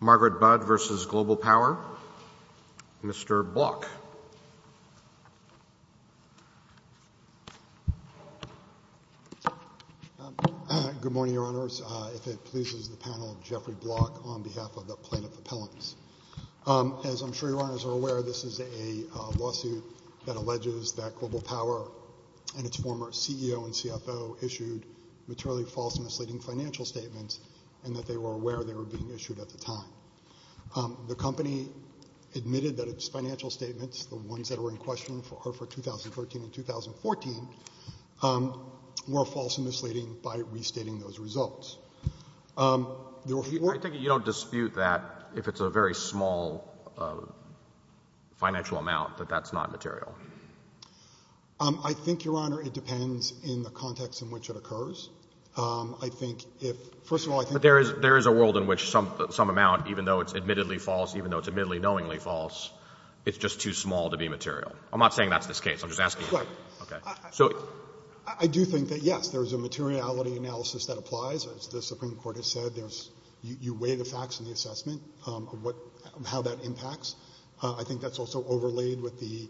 Margaret Budde v. Global Power. Mr. Block. Good morning, Your Honors. If it pleases the panel, Jeffrey Block on behalf of the Plaintiff Appellants. As I'm sure Your Honors are aware, this is a lawsuit that alleges that Global Power and its former CEO and CFO issued materially false and misleading financial statements and that they were aware they were being issued at the time. The company admitted that its financial statements, the ones that were in question for 2013 and 2014, were false and misleading by restating those results. I think you don't dispute that if it's a very small financial amount, that that's not material. I think, Your Honor, it depends in the context in which it occurs. I think if — first of all, I think — But there is a world in which some amount, even though it's admittedly false, even though it's admittedly knowingly false, it's just too small to be material. I'm not saying that's the case. I'm just asking — Right. Okay. So — I do think that, yes, there's a materiality analysis that applies. As the Supreme Court has said, there's — you weigh the facts in the assessment of what — how that impacts. I think that's also overlaid with the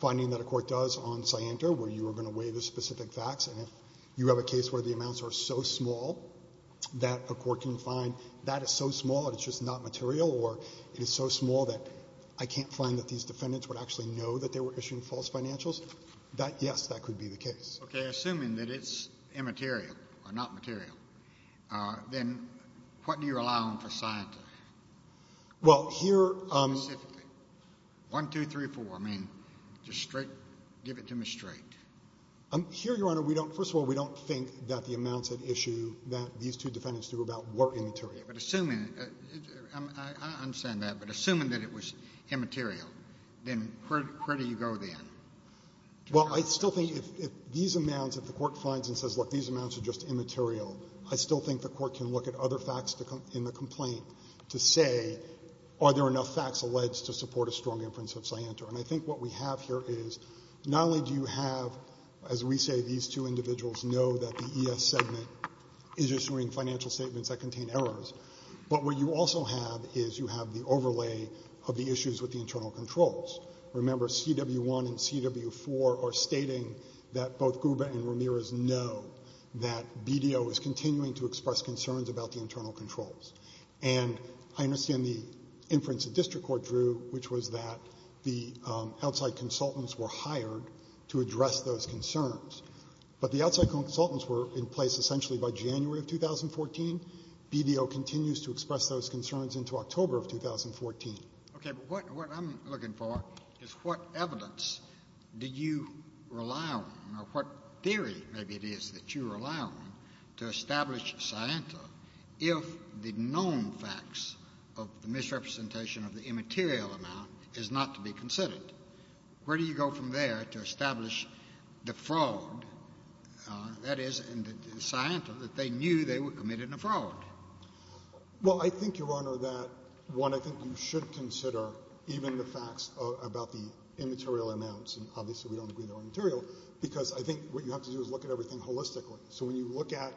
finding that a court does on Scienter, where you are going to weigh the specific facts, and if you have a case where the amounts are so small that a court can find that is so small that it's just not material, or it is so small that I can't find that these defendants would actually know that they were issuing false financials, that, yes, that could be the case. Okay. Assuming that it's immaterial or not material, then what do you rely on for Scienter? Well, here — Specifically. One, two, three, four. I mean, just straight — give it to me straight. Here, Your Honor, we don't — first of all, we don't think that the amounts at issue that these two defendants threw about were immaterial. But assuming — I understand that. But assuming that it was immaterial, then where do you go then? Well, I still think if these amounts, if the court finds and says, look, these amounts are just immaterial, I still think the court can look at other facts in the complaint to say, are there enough facts alleged to support a strong inference of Scienter? And I think what we have here is not only do you have, as we say, these two individuals know that the ES segment is issuing financial statements that contain errors, but what you also have is you have the overlay of the issues with the internal controls. Remember, CW1 and CW4 are stating that both Gruber and Ramirez know that BDO is continuing to express concerns about the internal controls. And I understand the inference the district court drew, which was that the outside consultants were hired to address those concerns. But the outside consultants were in place essentially by January of 2014. BDO continues to express those concerns into October of 2014. Okay. But what I'm looking for is what evidence did you rely on or what theory maybe it is that you rely on to establish Scienter if the known facts of the misrepresentation of the immaterial amount is not to be considered? Where do you go from there to establish the fraud, that is, in the Scienter that they knew they were committing a fraud? Well, I think, Your Honor, that, one, I think you should consider even the facts about the immaterial amounts, and obviously we don't agree they're immaterial, because I think what you have to do is look at everything holistically. So when you look at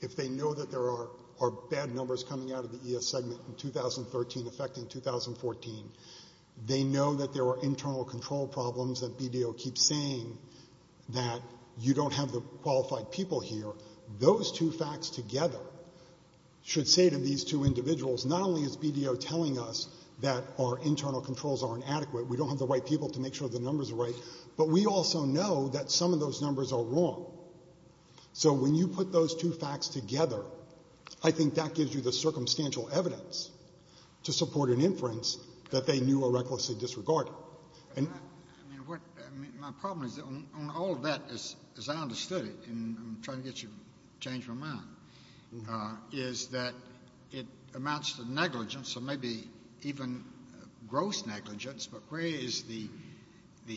if they know that there are bad numbers coming out of the ES segment in 2013 affecting 2014, they know that there are internal control problems that BDO keeps saying that you don't have the qualified people here. Those two facts together should say to these two individuals, not only is BDO telling us that our internal controls are inadequate, we don't have the right people to make sure the numbers are right, but we also know that some of those numbers are wrong. So when you put those two facts together, I think that gives you the circumstantial evidence to support an inference that they knew or recklessly disregarded. My problem is that on all of that, as I understood it, and I'm trying to get you to change my mind, is that it amounts to negligence or maybe even gross negligence, but where is the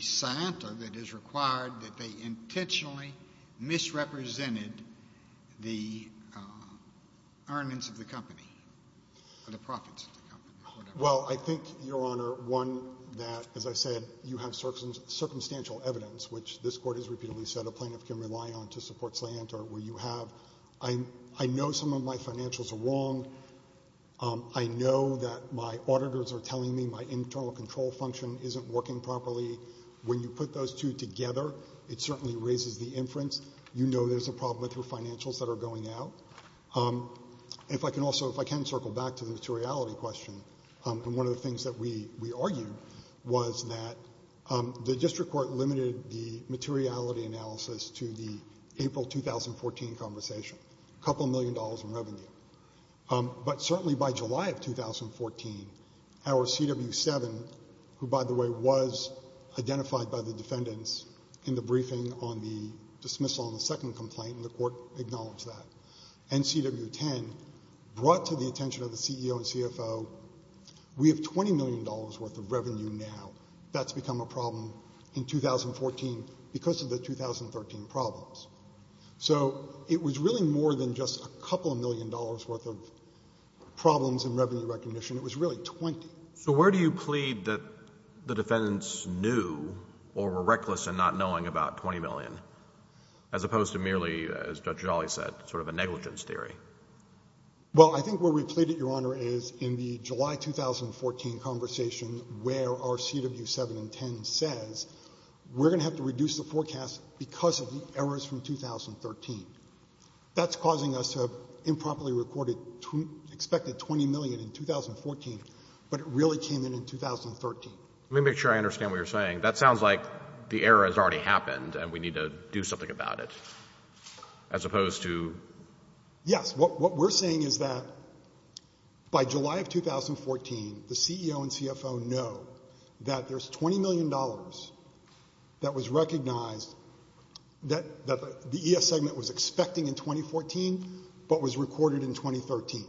scienter that is required that they intentionally misrepresented the earnings of the company or the profits of the company or whatever? Well, I think, Your Honor, one, that, as I said, you have circumstantial evidence, which this Court has repeatedly said a plaintiff can rely on to support scienter where you have. I know some of my financials are wrong. I know that my auditors are telling me my internal control function isn't working properly. When you put those two together, it certainly raises the inference. You know there's a problem with your financials that are going out. If I can circle back to the materiality question, one of the things that we argued was that the district court limited the materiality analysis to the April 2014 conversation, a couple million dollars in revenue. But certainly by July of 2014, our CW7, who, by the way, was identified by the defendants in the briefing on the dismissal on the second complaint, and the court acknowledged that, and CW10 brought to the attention of the CEO and CFO, we have $20 million worth of revenue now. That's become a problem in 2014 because of the 2013 problems. So it was really more than just a couple million dollars worth of problems in revenue recognition. It was really 20. So where do you plead that the defendants knew or were reckless in not knowing about 20 million, as opposed to merely, as Judge Jolly said, sort of a negligence theory? Well, I think where we plead it, Your Honor, is in the July 2014 conversation where our CW7 and 10 says we're going to have to reduce the forecast because of the errors from 2013. That's causing us to have improperly recorded, expected 20 million in 2014, but it really came in in 2013. Let me make sure I understand what you're saying. That sounds like the error has already happened and we need to do something about it, as opposed to? Yes. What we're saying is that by July of 2014, the CEO and CFO know that there's $20 million that was recognized that the ES segment was expecting in 2014, but was recorded in 2013.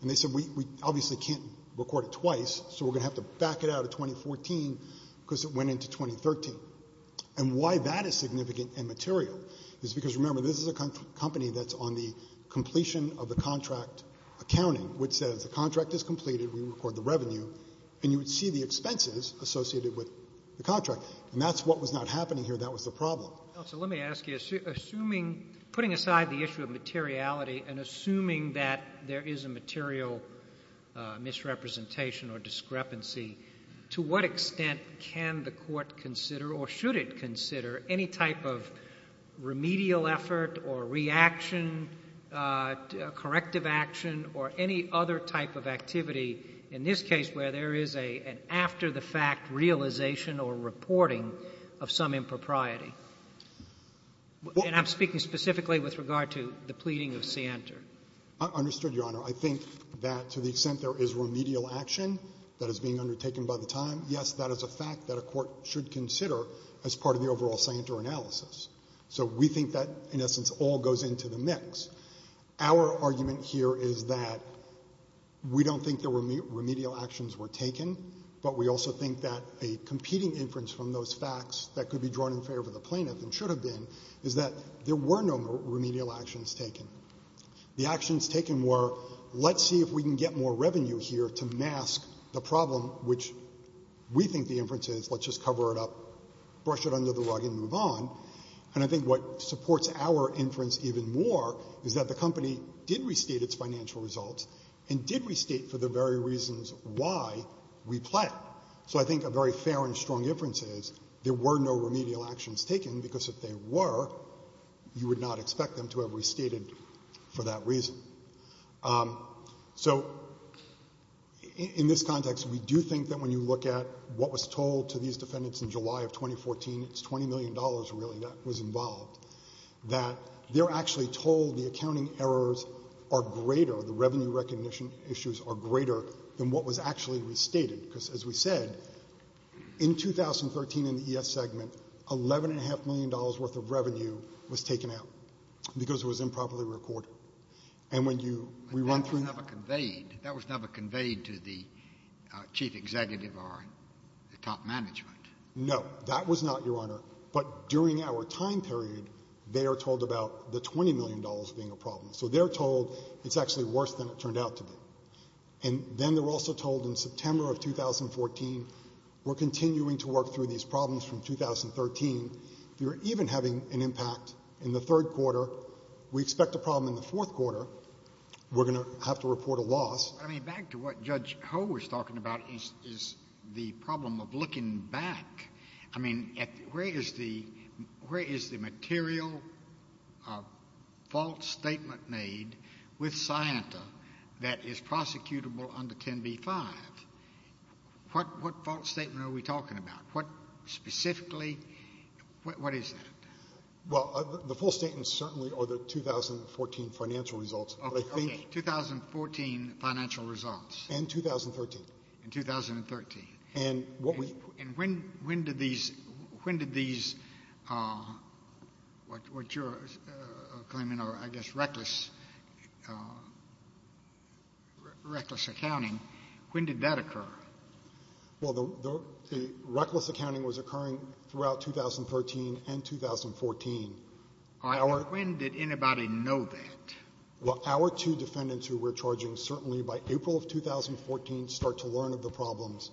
And they said we obviously can't record it twice, so we're going to have to back it out in 2014 because it went into 2013. And why that is significant and material is because, remember, this is a company that's on the completion of the contract accounting, and you would see the expenses associated with the contract. And that's what was not happening here. That was the problem. Counsel, let me ask you, putting aside the issue of materiality and assuming that there is a material misrepresentation or discrepancy, to what extent can the court consider or should it consider any type of remedial effort or reaction, corrective action, or any other type of activity in this case where there is an after-the-fact realization or reporting of some impropriety? And I'm speaking specifically with regard to the pleading of Sienter. I understood, Your Honor. I think that to the extent there is remedial action that is being undertaken by the time, yes, that is a fact that a court should consider as part of the overall Sienter analysis. So we think that, in essence, all goes into the mix. Our argument here is that we don't think that remedial actions were taken, but we also think that a competing inference from those facts that could be drawn in favor of the plaintiff and should have been is that there were no remedial actions taken. The actions taken were, let's see if we can get more revenue here to mask the problem, which we think the inference is, let's just cover it up, brush it under the rug, and move on. And I think what supports our inference even more is that the company did restate its financial results and did restate for the very reasons why we plead. So I think a very fair and strong inference is there were no remedial actions taken, because if there were, you would not expect them to have restated for that reason. So in this context, we do think that when you look at what was told to these defendants in July of 2014, it's $20 million, really, that was involved, that they're actually told the accounting errors are greater, the revenue recognition issues are greater than what was actually restated. Because as we said, in 2013 in the ES segment, $11.5 million worth of revenue was taken out because it was improperly recorded. And when you run through the— But that was never conveyed. That was never conveyed to the chief executive or the top management. No, that was not, Your Honor. But during our time period, they are told about the $20 million being a problem. So they're told it's actually worse than it turned out to be. And then they're also told in September of 2014, we're continuing to work through these problems from 2013. If you're even having an impact in the third quarter, we expect a problem in the fourth quarter. We're going to have to report a loss. I mean, back to what Judge Ho was talking about is the problem of looking back. I mean, where is the material false statement made with Scienta that is prosecutable under 10b-5? What false statement are we talking about? What specifically? What is that? Well, the full statements certainly are the 2014 financial results. Okay, 2014 financial results. And 2013. And 2013. And when did these, what you're claiming are, I guess, reckless accounting, when did that occur? Well, the reckless accounting was occurring throughout 2013 and 2014. When did anybody know that? Well, our two defendants who we're charging certainly by April of 2014 start to learn of the problems.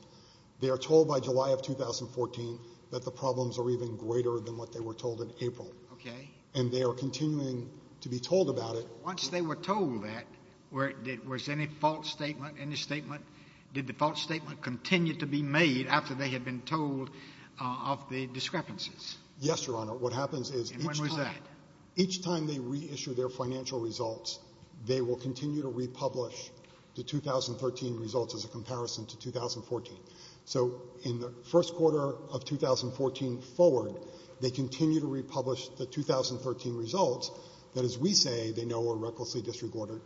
They are told by July of 2014 that the problems are even greater than what they were told in April. Okay. And they are continuing to be told about it. Once they were told that, was any false statement, any statement, did the false statement continue to be made after they had been told of the discrepancies? Yes, Your Honor. What happens is each time. And when was that? They will continue to republish the 2013 results as a comparison to 2014. So in the first quarter of 2014 forward, they continue to republish the 2013 results that, as we say, they know were recklessly disregarded,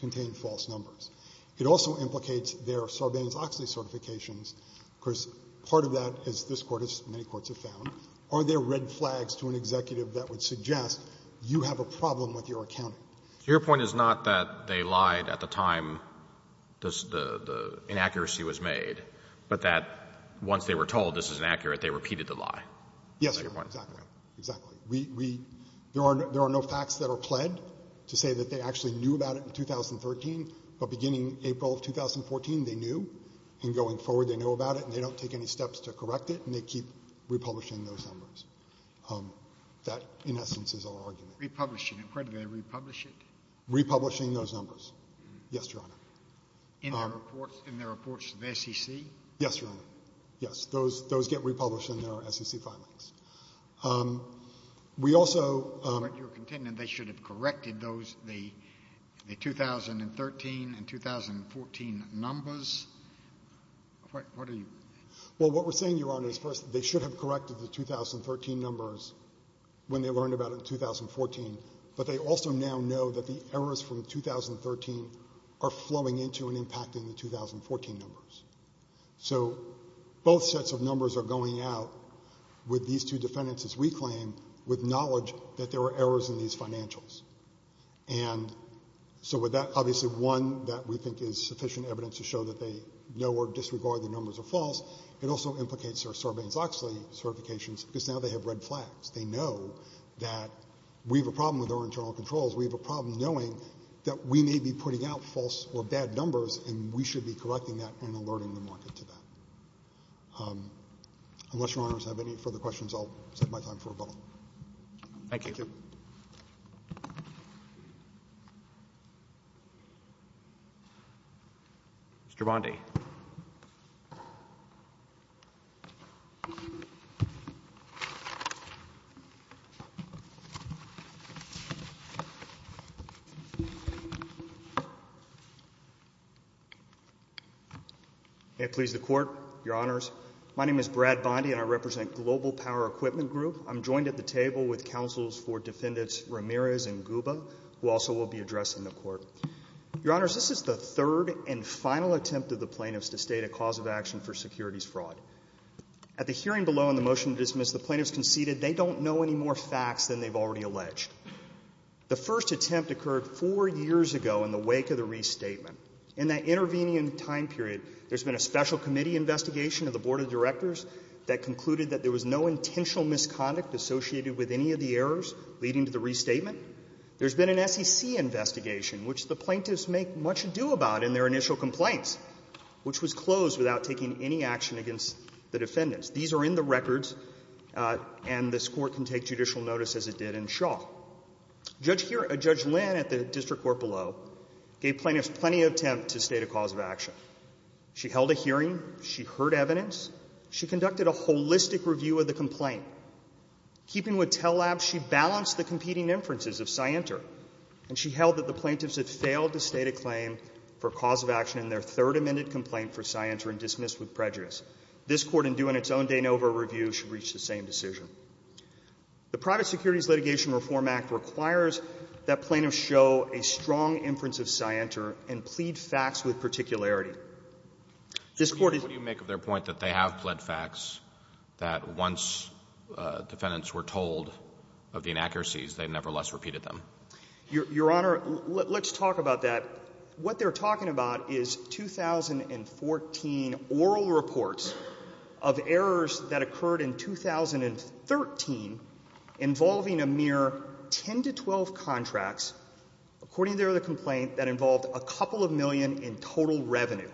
contained false numbers. It also implicates their Sarbanes-Oxley certifications. Of course, part of that is this Court, as many courts have found, are there red flags to an executive that would suggest you have a problem with your accounting? Your point is not that they lied at the time the inaccuracy was made, but that once they were told this is inaccurate, they repeated the lie. Yes, Your Honor. Exactly. Exactly. There are no facts that are pled to say that they actually knew about it in 2013, but beginning April of 2014, they knew. And going forward, they know about it, and they don't take any steps to correct it, and they keep republishing those numbers. That, in essence, is our argument. Republishing it. Where do they republish it? Republishing those numbers. Yes, Your Honor. In their reports to the SEC? Yes, Your Honor. Yes. Those get republished in their SEC filings. We also— But you're contending they should have corrected the 2013 and 2014 numbers? What are you— Well, what we're saying, Your Honor, is, first, they should have corrected the 2013 numbers when they learned about it in 2014, but they also now know that the errors from 2013 are flowing into and impacting the 2014 numbers. So both sets of numbers are going out with these two defendants, as we claim, with knowledge that there were errors in these financials. And so with that, obviously, one that we think is sufficient evidence to show that they know or disregard the numbers are false, it also implicates their Sarbanes-Oxley certifications because now they have red flags. They know that we have a problem with our internal controls. We have a problem knowing that we may be putting out false or bad numbers, and we should be correcting that and alerting the market to that. Unless Your Honors have any further questions, I'll set my time for rebuttal. Thank you. Thank you. Mr. Bondi. May it please the Court, Your Honors, my name is Brad Bondi and I represent Global Power Equipment Group. I'm joined at the table with counsels for Defendants Ramirez and Guba, who also will be addressing the Court. Your Honors, this is the third and final attempt of the plaintiffs to state a cause of action for securities fraud. At the hearing below on the motion to dismiss, the plaintiffs conceded they don't know any more facts than they've already alleged. The first attempt occurred four years ago in the wake of the restatement. In that intervening time period, there's been a special committee investigation of the Board of Directors that concluded that there was no intentional misconduct associated with any of the errors leading to the restatement. There's been an SEC investigation, which the plaintiffs make much ado about in their initial complaints, which was closed without taking any action against the defendants. These are in the records, and this Court can take judicial notice as it did in Shaw. Judge Lynn at the district court below gave plaintiffs plenty of attempt to state a cause of action. She held a hearing. She heard evidence. She conducted a holistic review of the complaint. Keeping with Tellab, she balanced the competing inferences of Scienter, and she held that the plaintiffs had failed to state a claim for cause of action in their third amended complaint for Scienter and dismissed with prejudice. This Court, in doing its own de novo review, should reach the same decision. The Private Securities Litigation Reform Act requires that plaintiffs show a strong inference of Scienter and plead facts with particularity. What do you make of their point that they have pled facts, that once defendants were told of the inaccuracies, they nevertheless repeated them? Your Honor, let's talk about that. What they're talking about is 2014 oral reports of errors that occurred in 2013 involving a mere 10 to 12 contracts, according to their other complaint, that involved a couple of million in total revenue.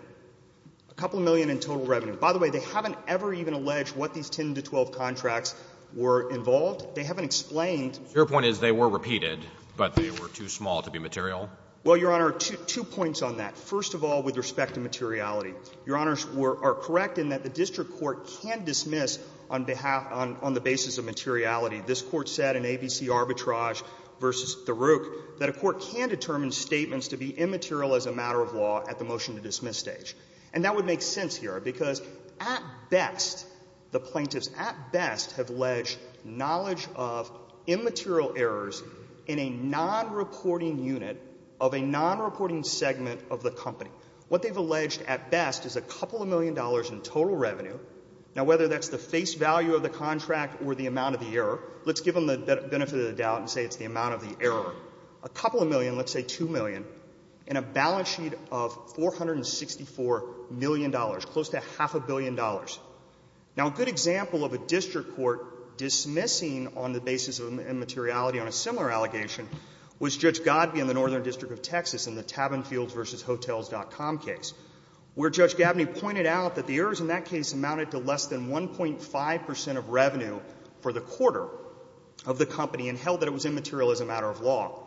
A couple of million in total revenue. By the way, they haven't ever even alleged what these 10 to 12 contracts were involved. They haven't explained. Your point is they were repeated, but they were too small to be material? Well, Your Honor, two points on that. First of all, with respect to materiality. Your Honors are correct in that the district court can dismiss on behalf — on the basis of materiality. This Court said in ABC Arbitrage v. The Rook that a court can determine statements to be immaterial as a matter of law at the motion-to-dismiss stage. And that would make sense here, because at best, the plaintiffs at best have alleged knowledge of immaterial errors in a non-reporting unit of a non-reporting segment of the company. What they've alleged at best is a couple of million dollars in total revenue. Now, whether that's the face value of the contract or the amount of the error, let's give them the benefit of the doubt and say it's the amount of the error. A couple of million, let's say 2 million, and a balance sheet of $464 million, close to half a billion dollars. Now, a good example of a district court dismissing on the basis of immateriality on a similar allegation was Judge Godbee in the Northern District of Texas in the Tabinfields v. Hotels.com case, where Judge Gabbany pointed out that the errors in that case amounted to less than 1.5 percent of revenue for the quarter of the call.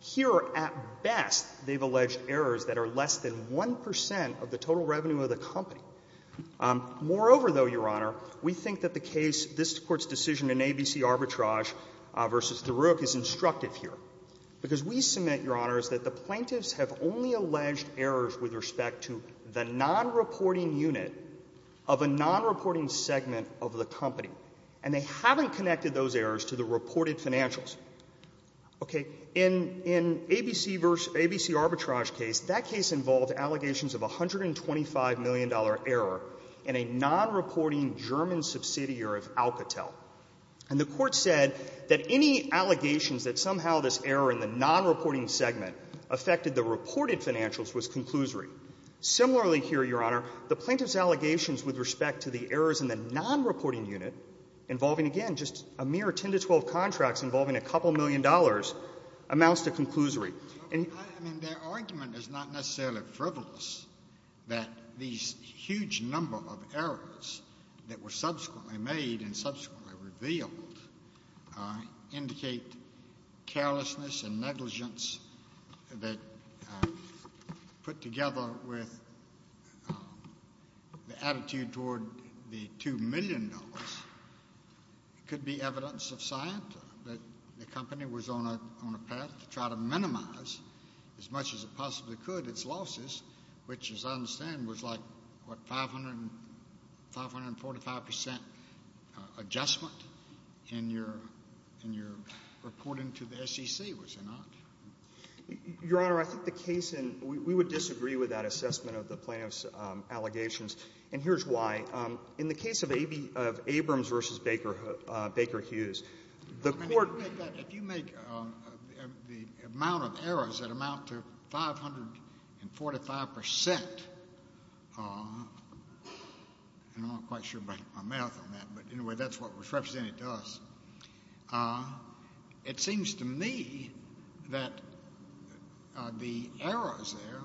Here, at best, they've alleged errors that are less than 1 percent of the total revenue of the company. Moreover, though, Your Honor, we think that the case, this Court's decision in ABC arbitrage v. DeRook is instructive here, because we submit, Your Honors, that the plaintiffs have only alleged errors with respect to the non-reporting unit of a non-reporting segment of the company, and they haven't connected those errors to the reported financials. Okay. In ABC v. ABC arbitrage case, that case involved allegations of a $125 million error in a non-reporting German subsidiary of Alcatel. And the Court said that any allegations that somehow this error in the non-reporting segment affected the reported financials was conclusory. Similarly here, Your Honor, the plaintiffs' allegations with respect to the errors in the non-reporting unit involving, again, just a mere 10 to 12 contracts involving a couple million dollars amounts to conclusory. I mean, their argument is not necessarily frivolous that these huge number of errors that were subsequently made and subsequently revealed indicate carelessness and that $125 million could be evidence of science, that the company was on a path to try to minimize as much as it possibly could its losses, which as I understand was like, what, 545 percent adjustment in your reporting to the SEC, was it not? Your Honor, I think the case in — we would disagree with that assessment of the plaintiffs' allegations. And here's why. In the case of Abrams v. Baker Hughes, the Court — I mean, if you make the amount of errors that amount to 545 percent, and I'm not quite sure about my math on that, but anyway, that's what was represented to us, it seems to me that the errors there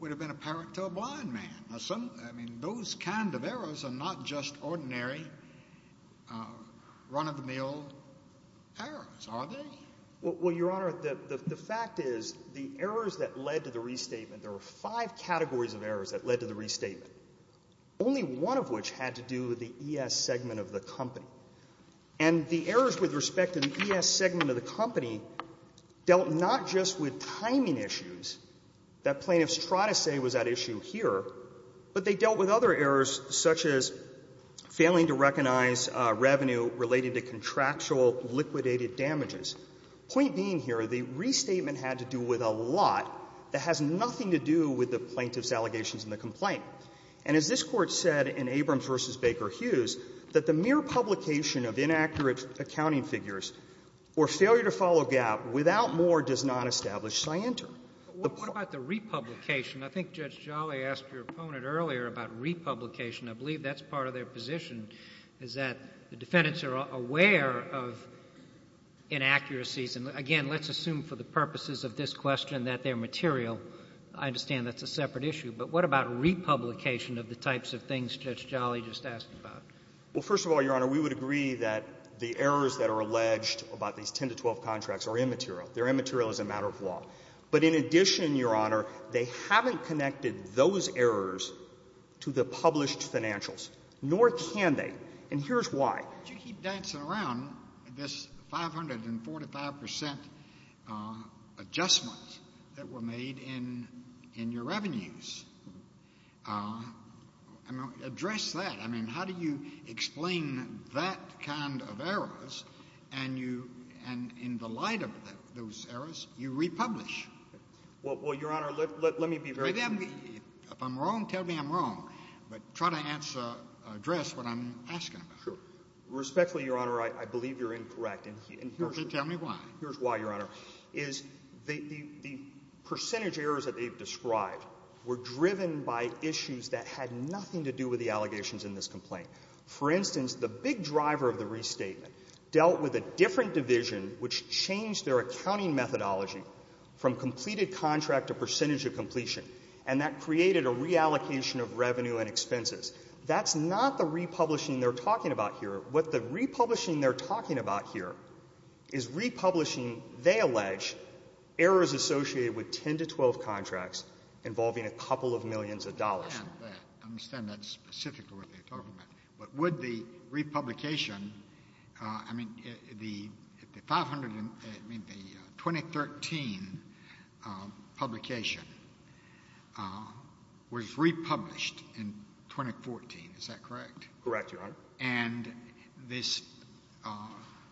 would have been apparent to a blind man. I mean, those kind of errors are not just ordinary run-of-the-mill errors, are they? Well, Your Honor, the fact is the errors that led to the restatement, there were five categories of errors that led to the restatement. Only one of which had to do with the ES segment of the company. And the errors with respect to the ES segment of the company dealt not just with timing issues that plaintiffs try to say was at issue here, but they dealt with other errors such as failing to recognize revenue related to contractual liquidated damages. Point being here, the restatement had to do with a lot that has nothing to do with the plaintiffs' allegations in the complaint. And as this Court said in Abrams v. Baker Hughes, that the mere publication of inaccurate accounting figures or failure to follow GAAP without more does not establish scienter. But what about the republication? I think Judge Jolly asked your opponent earlier about republication. I believe that's part of their position, is that the defendants are aware of inaccuracies, and again, let's assume for the purposes of this question that they're material. I understand that's a separate issue, but what about republication of the types of things Judge Jolly just asked about? Well, first of all, Your Honor, we would agree that the errors that are alleged about these 10 to 12 contracts are immaterial. They're immaterial as a matter of law. But in addition, Your Honor, they haven't connected those errors to the published financials, nor can they. And here's why. Why do you keep dancing around this 545 percent adjustment that were made in your revenues? I mean, address that. I mean, how do you explain that kind of errors, and in the light of those errors, you republish? Well, Your Honor, let me be very clear. If I'm wrong, tell me I'm wrong. But try to address what I'm asking about. Sure. Respectfully, Your Honor, I believe you're incorrect. And here's why, Your Honor, is the percentage errors that they've described were driven by issues that had nothing to do with the allegations in this complaint. For instance, the big driver of the restatement dealt with a different division which changed their accounting methodology from completed contract to percentage of completion, and that created a reallocation of revenue and expenses. That's not the republishing they're talking about here. What the republishing they're talking about here is republishing, they allege, errors associated with 10 to 12 contracts involving a couple of millions of dollars. I understand that specifically, what they're talking about. But would the republication, I mean, the 2013 publication was republished in 2014. Is that correct? Correct, Your Honor. And this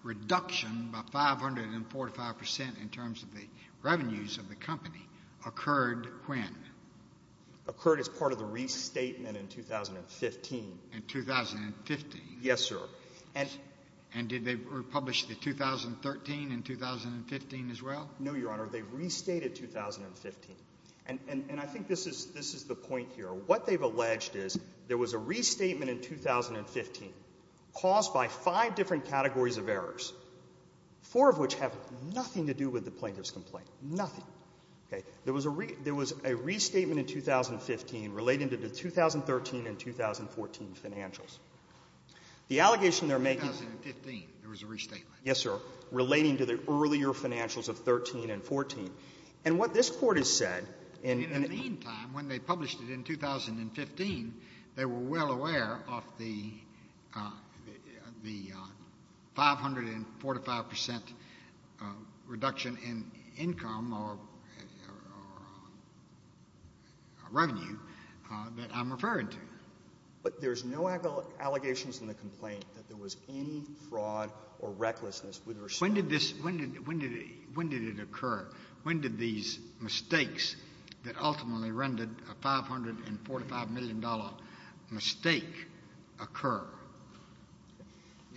reduction by 545% in terms of the revenues of the company occurred when? Occurred as part of the restatement in 2015. In 2015? Yes, sir. And did they republish the 2013 in 2015 as well? No, Your Honor. They restated 2015. And I think this is the point here. What they've alleged is there was a restatement in 2015 caused by five different categories of errors, four of which have nothing to do with the plaintiff's complaint, nothing. Okay. There was a restatement in 2015 relating to the 2013 and 2014 financials. The allegation they're making — In 2015 there was a restatement. Yes, sir, relating to the earlier financials of 13 and 14. And what this Court has said — In the meantime, when they published it in 2015, they were well aware of the 545% reduction in income or revenue that I'm referring to. But there's no allegations in the complaint that there was any fraud or recklessness with respect to — When did this — when did it occur? When did these mistakes that ultimately rendered a $545 million mistake occur?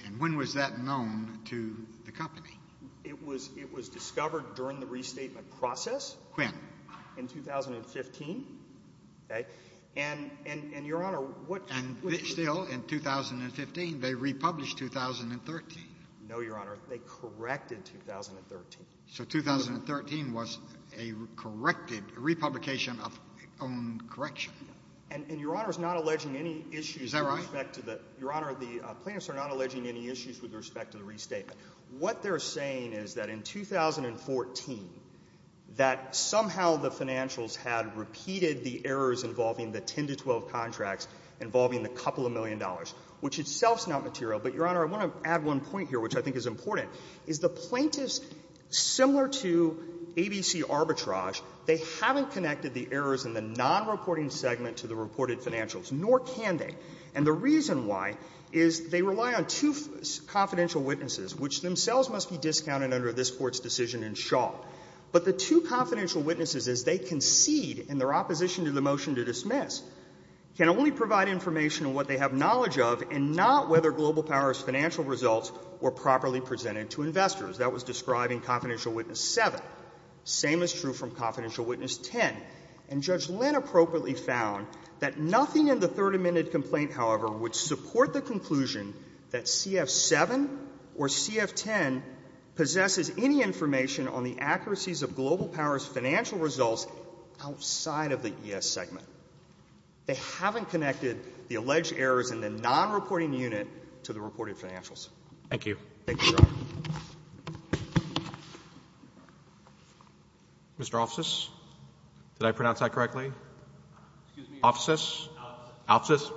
And when was that known to the company? It was discovered during the restatement process. When? In 2015. Okay. And, Your Honor, what — And still, in 2015, they republished 2013. No, Your Honor. They corrected 2013. So 2013 was a corrected — a republication of own correction. And Your Honor is not alleging any issues with respect to the — Is that right? Your Honor, the plaintiffs are not alleging any issues with respect to the restatement. What they're saying is that in 2014, that somehow the financials had repeated the errors involving the 10 to 12 contracts involving the couple of million dollars, which itself is not material. But, Your Honor, I want to add one point here, which I think is important, is the plaintiffs, similar to ABC arbitrage, they haven't connected the errors in the nonreporting segment to the reported financials, nor can they. And the reason why is they rely on two confidential witnesses, which themselves must be discounted under this Court's decision in Shaw. But the two confidential witnesses, as they concede in their opposition to the motion to dismiss, can only provide information on what they have knowledge of, and not whether Global Power's financial results were properly presented to investors. That was described in Confidential Witness 7. Same is true from Confidential Witness 10. And Judge Lynn appropriately found that nothing in the Third Amendment complaint, however, would support the conclusion that CF-7 or CF-10 possesses any information on the accuracies of Global Power's financial results outside of the ES segment. They haven't connected the alleged errors in the nonreporting unit to the reported Thank you. Thank you, Your Honor. Mr. Offsys? Did I pronounce that correctly? Excuse me? Offsys? Offsys. Offsys? Yes.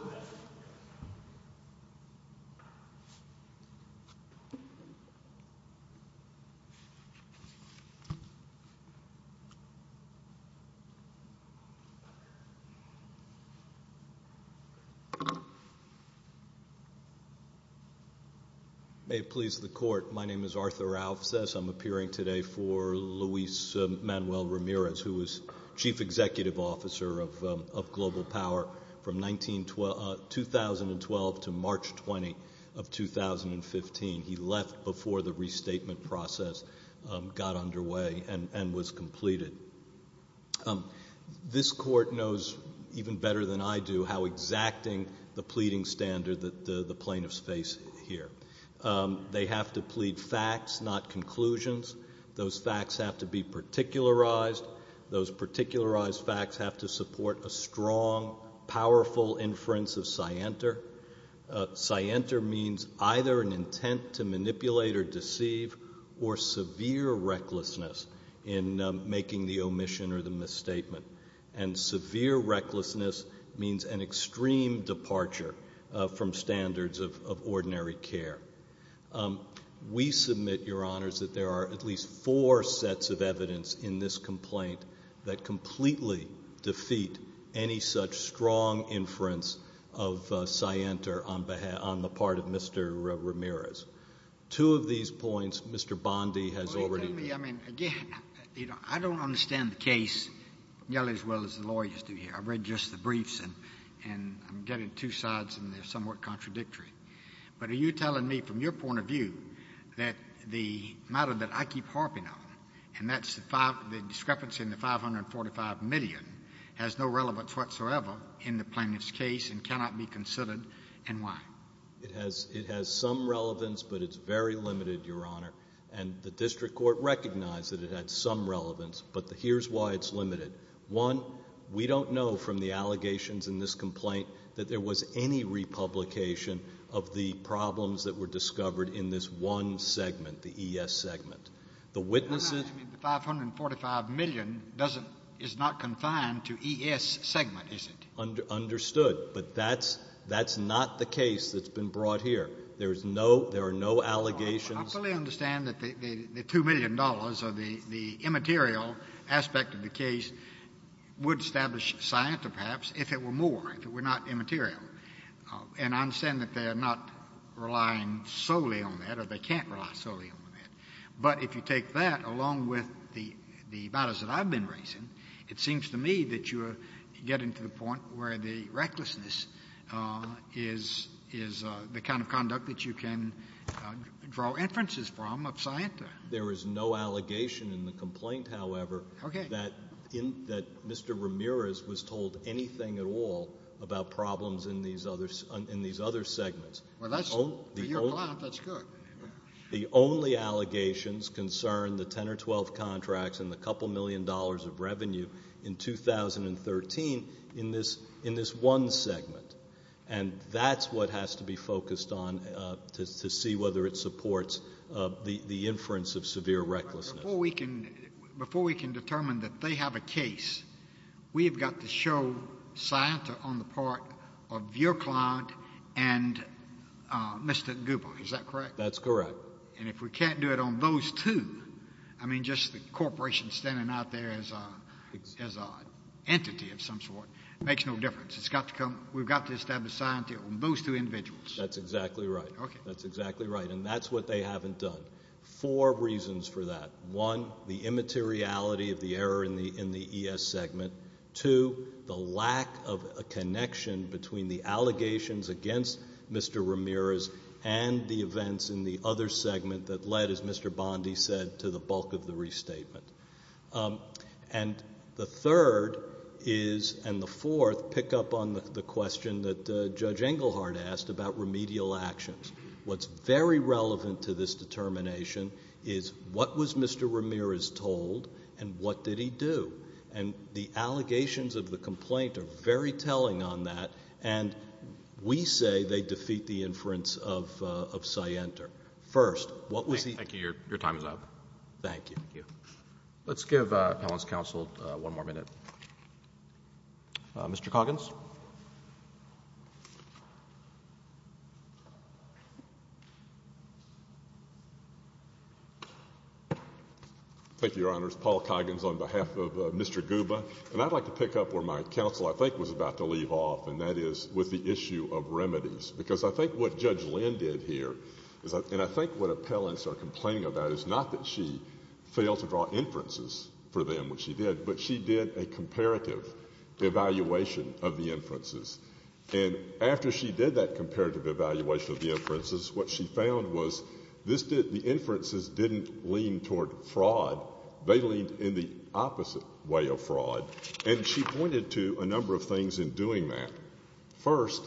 May it please the Court, my name is Arthur Offsys. I'm appearing today for Luis Manuel Ramirez, who was Chief Executive Officer of Global Power from 2012 to March 20 of 2015. He left before the restatement process got underway and was completed. This Court knows even better than I do how exacting the pleading standard that the plaintiffs face here. They have to plead facts, not conclusions. Those facts have to be particularized. Those particularized facts have to support a strong, powerful inference of scienter. Scienter means either an intent to manipulate or deceive or severe recklessness in making the omission or the misstatement. And severe recklessness means an extreme departure from standards of ordinary care. We submit, Your Honors, that there are at least four sets of evidence in this complaint that completely defeat any such strong inference of scienter on the part of Mr. Ramirez. Two of these points Mr. Bondi has already made. I don't understand the case nearly as well as the lawyers do here. I've read just the briefs and I'm getting two sides and they're somewhat contradictory. But are you telling me from your point of view that the matter that I keep harping on, and that's the discrepancy in the $545 million, has no relevance whatsoever in the plaintiff's case and cannot be considered, and why? It has some relevance, but it's very limited, Your Honor. And the District Court recognized that it had some relevance, but here's why it's limited. One, we don't know from the allegations in this complaint that there was any republication of the problems that were discovered in this one segment, the ES segment. The witnesses. The $545 million is not confined to ES segment, is it? Understood. But that's not the case that's been brought here. There are no allegations. I fully understand that the $2 million or the immaterial aspect of the case would establish science or perhaps if it were more, if it were not immaterial. And I understand that they are not relying solely on that or they can't rely solely on that. But if you take that along with the matters that I've been raising, it seems to me that you are getting to the point where the recklessness is the kind of conduct that you can draw inferences from of science. There is no allegation in the complaint, however, that Mr. Ramirez was told anything at all about problems in these other segments. Well, for your client, that's good. The only allegations concern the 10 or 12 contracts and the couple million dollars of revenue in 2013 in this one segment. And that's what has to be focused on to see whether it supports the inference of severe recklessness. Before we can determine that they have a case, we've got to show science on the part of your client and Mr. Gubel. Is that correct? That's correct. And if we can't do it on those two, I mean, just the corporation standing out there as an entity of some sort makes no difference. We've got to establish science on those two individuals. That's exactly right. That's exactly right. And that's what they haven't done. Four reasons for that. One, the immateriality of the error in the ES segment. Two, the lack of a connection between the allegations against Mr. Ramirez and the events in the other segment that led, as Mr. Bondi said, to the bulk of the restatement. And the third is, and the fourth, pick up on the question that Judge Englehart asked about remedial actions. What's very relevant to this determination is what was Mr. Ramirez told and what did he do? And the allegations of the complaint are very telling on that, and we say they defeat the inference of Sienter. First, what was he... Thank you. Your time is up. Thank you. Thank you. Let's give appellant's counsel one more minute. Mr. Coggins. Thank you, Your Honors. Paul Coggins on behalf of Mr. Guba. And I'd like to pick up where my counsel, I think, was about to leave off, and that is with the issue of remedies. Because I think what Judge Lynn did here is, and I think what appellants are aware of, is that she failed to draw inferences for them, which she did. But she did a comparative evaluation of the inferences. And after she did that comparative evaluation of the inferences, what she found was the inferences didn't lean toward fraud. They leaned in the opposite way of fraud. And she pointed to a number of things in doing that. First,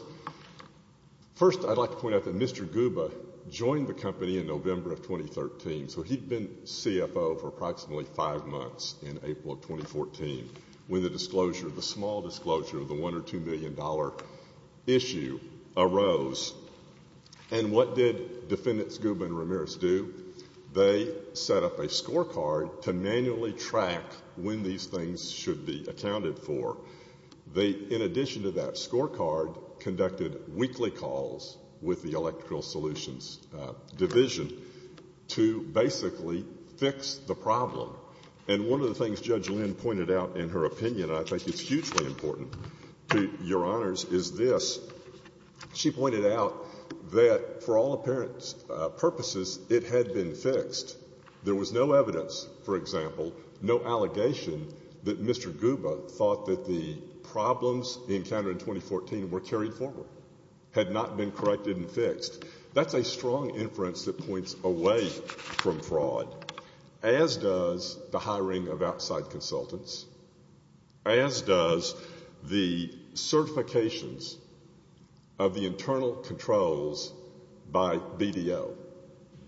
I'd like to point out that Mr. Guba joined the company in November of 2013. So he'd been CFO for approximately five months in April of 2014 when the disclosure, the small disclosure of the $1 or $2 million issue arose. And what did defendants Guba and Ramirez do? They set up a scorecard to manually track when these things should be accounted for. They, in addition to that scorecard, conducted weekly calls with the electrical solutions division to basically fix the problem. And one of the things Judge Lynn pointed out in her opinion, and I think it's hugely important to Your Honors, is this. She pointed out that for all apparent purposes, it had been fixed. There was no evidence, for example, no allegation, that Mr. Guba thought that the That's a strong inference that points away from fraud, as does the hiring of outside consultants, as does the certifications of the internal controls by BDO.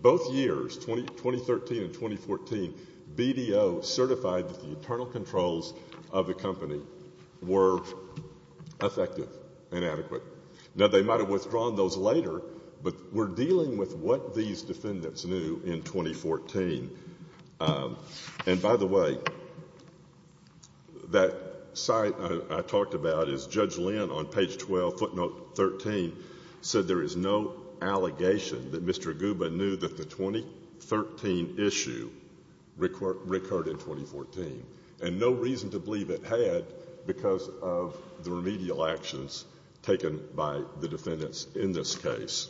Both years, 2013 and 2014, BDO certified that the internal controls of the company were effective and adequate. Now, they might have withdrawn those later, but we're dealing with what these defendants knew in 2014. And by the way, that site I talked about is Judge Lynn on page 12, footnote 13, said there is no allegation that Mr. Guba knew that the 2013 issue recurred in 2014. And no reason to believe it had because of the remedial actions taken by the defendants in this case.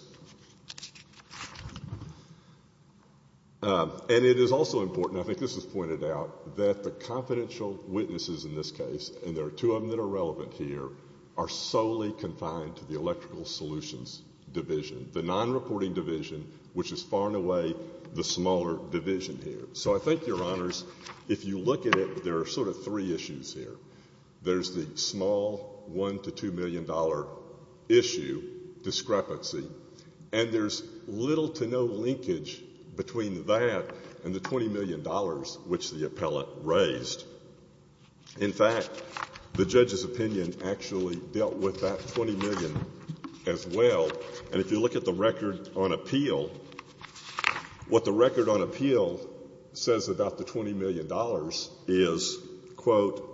And it is also important, I think this was pointed out, that the confidential witnesses in this case, and there are two of them that are relevant here, are solely confined to the electrical solutions division, the non-reporting division, which is far and away the smaller division here. So I think, Your Honors, if you look at it, there are sort of three issues here. There's the small $1 million to $2 million issue, discrepancy, and there's little to no linkage between that and the $20 million which the appellate raised. In fact, the judge's opinion actually dealt with that $20 million as well. And if you look at the record on appeal, what the record on appeal says about the $20 million is, quote,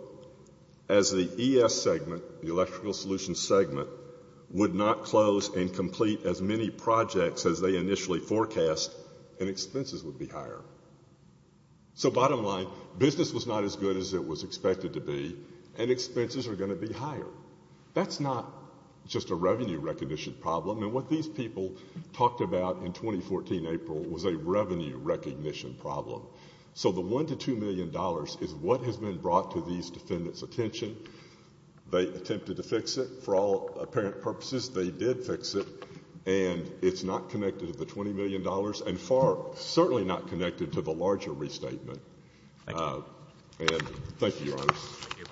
as the ES segment, the electrical solutions segment, would not close and complete as many projects as they initially forecast, and expenses would be higher. So bottom line, business was not as good as it was expected to be, and expenses are going to be higher. That's not just a revenue recognition problem. And what these people talked about in 2014 April was a revenue recognition problem. So the $1 million to $2 million is what has been brought to these defendants' attention. They attempted to fix it. For all apparent purposes, they did fix it, and it's not connected to the $20 million and far, certainly not connected to the larger restatement. And thank you, Your Honors. Thank you.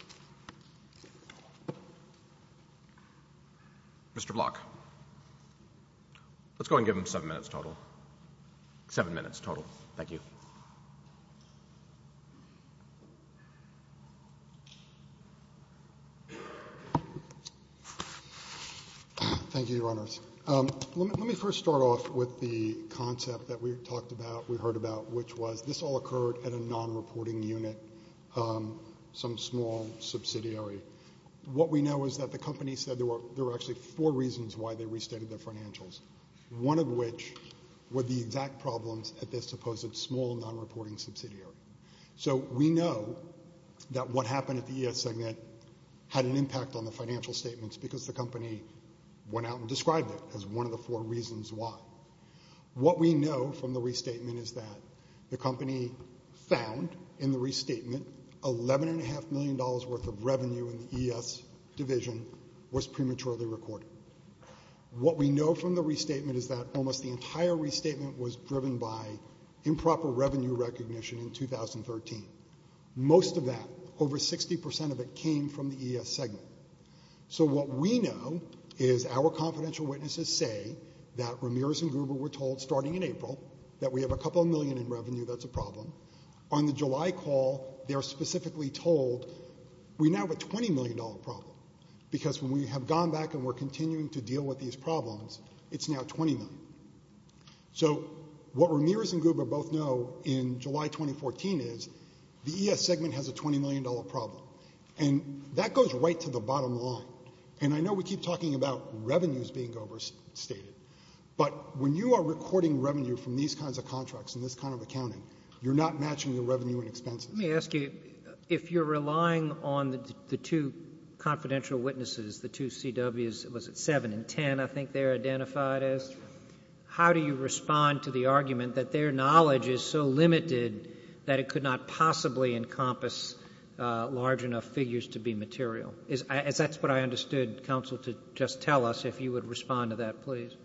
Mr. Block. Let's go ahead and give them seven minutes total. Seven minutes total. Thank you. Thank you, Your Honors. Let me first start off with the concept that we talked about, we heard about, which was this all occurred at a non-reporting unit, some small subsidiary. What we know is that the company said there were actually four reasons why they restated their financials, one of which were the exact problems at this supposed small non-reporting subsidiary. So we know that what happened at the ES segment had an impact on the financial statements because the company went out and described it as one of the four reasons why. What we know from the restatement is that the company found in the restatement $11.5 million worth of revenue in the ES division was prematurely recorded. What we know from the restatement is that almost the entire restatement was driven by improper revenue recognition in 2013. Most of that, over 60% of it, came from the ES segment. So what we know is our confidential witnesses say that Ramirez and Gruber were told starting in April that we have a couple million in revenue that's a problem. On the July call, they're specifically told we now have a $20 million problem because when we have gone back and we're continuing to deal with these problems, it's now $20 million. So what Ramirez and Gruber both know in July 2014 is the ES segment has a $20 million problem. And that goes right to the bottom line. And I know we keep talking about revenues being overstated, but when you are recording revenue from these kinds of contracts and this kind of accounting, you're not matching the revenue and expenses. Let me ask you, if you're relying on the two confidential witnesses, the two CWs, was it seven and ten I think they're identified as, how do you respond to the argument that their knowledge is so limited that it could not possibly encompass large enough figures to be material? Is that what I understood, counsel, to just tell us if you would respond to that,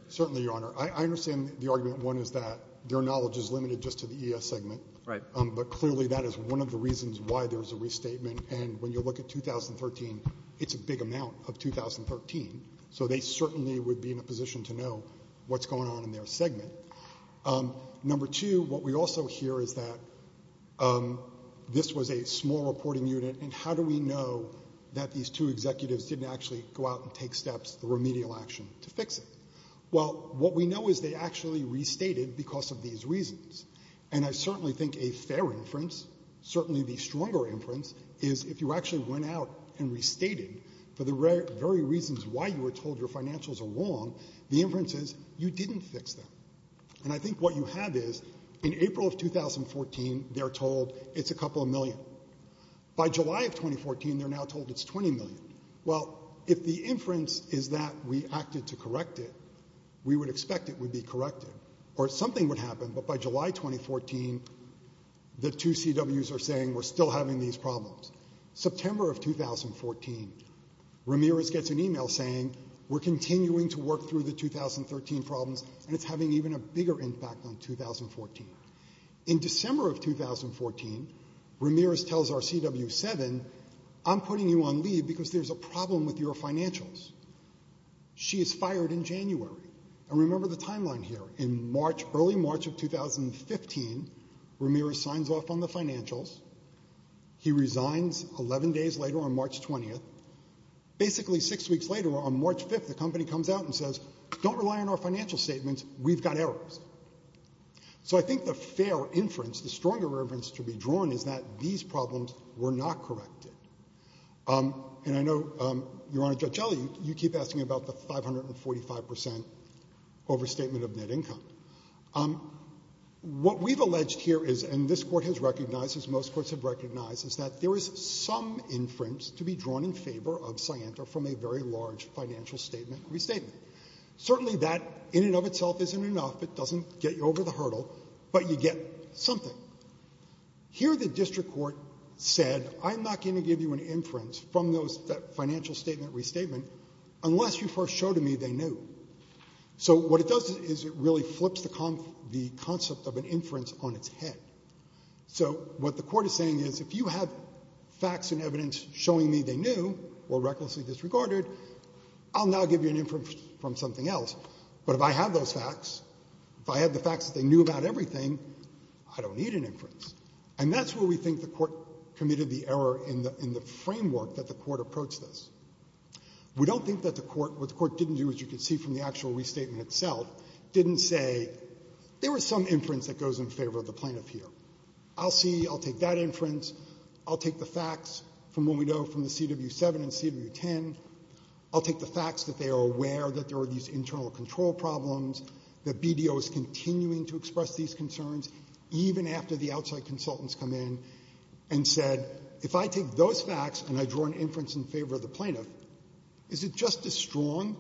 Certainly, Your Honor. I understand the argument, one, is that their knowledge is limited just to the ES segment. Right. But clearly that is one of the reasons why there's a restatement. And when you look at 2013, it's a big amount of 2013. So they certainly would be in a position to know what's going on in their segment. Number two, what we also hear is that this was a small reporting unit, and how do we know that these two executives didn't actually go out and take steps, the remedial action, to fix it? Well, what we know is they actually restated because of these reasons. And I certainly think a fair inference, certainly the stronger inference, is if you actually went out and restated for the very reasons why you were told your And I think what you have is in April of 2014, they're told it's a couple of million. By July of 2014, they're now told it's 20 million. Well, if the inference is that we acted to correct it, we would expect it would be corrected, or something would happen. But by July 2014, the two CWs are saying we're still having these problems. September of 2014, Ramirez gets an e-mail saying we're continuing to work through the 2013 problems, and it's having even a bigger impact on 2014. In December of 2014, Ramirez tells our CW7, I'm putting you on leave because there's a problem with your financials. She is fired in January. And remember the timeline here. In March, early March of 2015, Ramirez signs off on the financials. He resigns 11 days later on March 20th. Basically six weeks later, on March 5th, the company comes out and says, don't rely on our financial statements. We've got errors. So I think the fair inference, the stronger inference to be drawn is that these problems were not corrected. And I know, Your Honor, Judge Gelley, you keep asking about the 545 percent overstatement of net income. What we've alleged here is, and this Court has recognized, as most courts have a very large financial statement restatement. Certainly that in and of itself isn't enough. It doesn't get you over the hurdle. But you get something. Here the district court said, I'm not going to give you an inference from that financial statement restatement unless you first show to me they knew. So what it does is it really flips the concept of an inference on its head. So what the court is saying is, if you have facts and evidence showing me they knew or recklessly disregarded, I'll now give you an inference from something else. But if I have those facts, if I have the facts that they knew about everything, I don't need an inference. And that's where we think the court committed the error in the framework that the court approached this. We don't think that the court, what the court didn't do, as you can see from the actual restatement itself, didn't say, there was some inference that goes in favor of the plaintiff here. I'll see. I'll take that inference. I'll take the facts from what we know from the CW-7 and CW-10. I'll take the facts that they are aware that there are these internal control problems, that BDO is continuing to express these concerns, even after the outside consultants come in and said, if I take those facts and I draw an inference in favor of the plaintiff, is it just as strong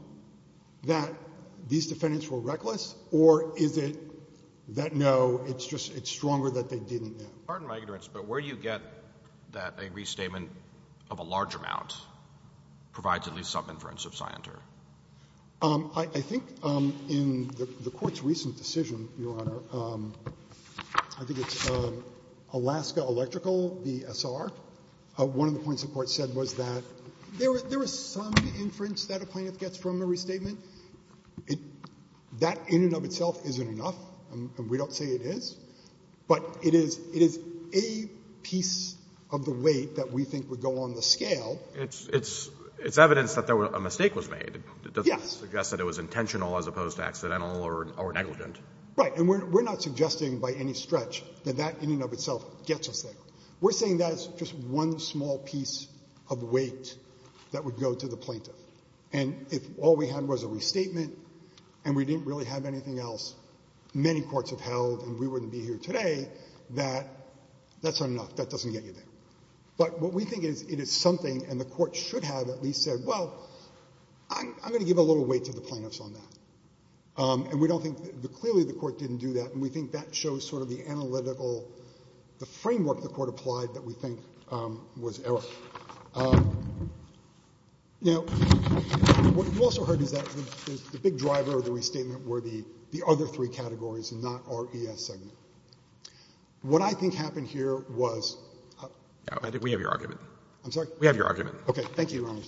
that these defendants were reckless? Or is it that, no, it's just, it's stronger that they didn't know? Pardon my ignorance, but where do you get that a restatement of a large amount provides at least some inference of scienter? I think in the Court's recent decision, Your Honor, I think it's Alaska Electrical v. Essar. One of the points the Court said was that there is some inference that a plaintiff gets from a restatement. That in and of itself isn't enough, and we don't say it is. But it is a piece of the weight that we think would go on the scale. It's evidence that a mistake was made. Yes. It doesn't suggest that it was intentional as opposed to accidental or negligent. Right. And we're not suggesting by any stretch that that in and of itself gets us there. We're saying that is just one small piece of weight that would go to the plaintiff. And if all we had was a restatement and we didn't really have anything else, many of us wouldn't be here today, that that's not enough. That doesn't get you there. But what we think is it is something, and the Court should have at least said, well, I'm going to give a little weight to the plaintiffs on that. And we don't think that clearly the Court didn't do that, and we think that shows sort of the analytical, the framework the Court applied that we think was error. Now, what you also heard is that the big driver of the restatement were the other three categories and not our ES segment. What I think happened here was we have your argument. I'm sorry? We have your argument. Okay. Thank you, Your Honor.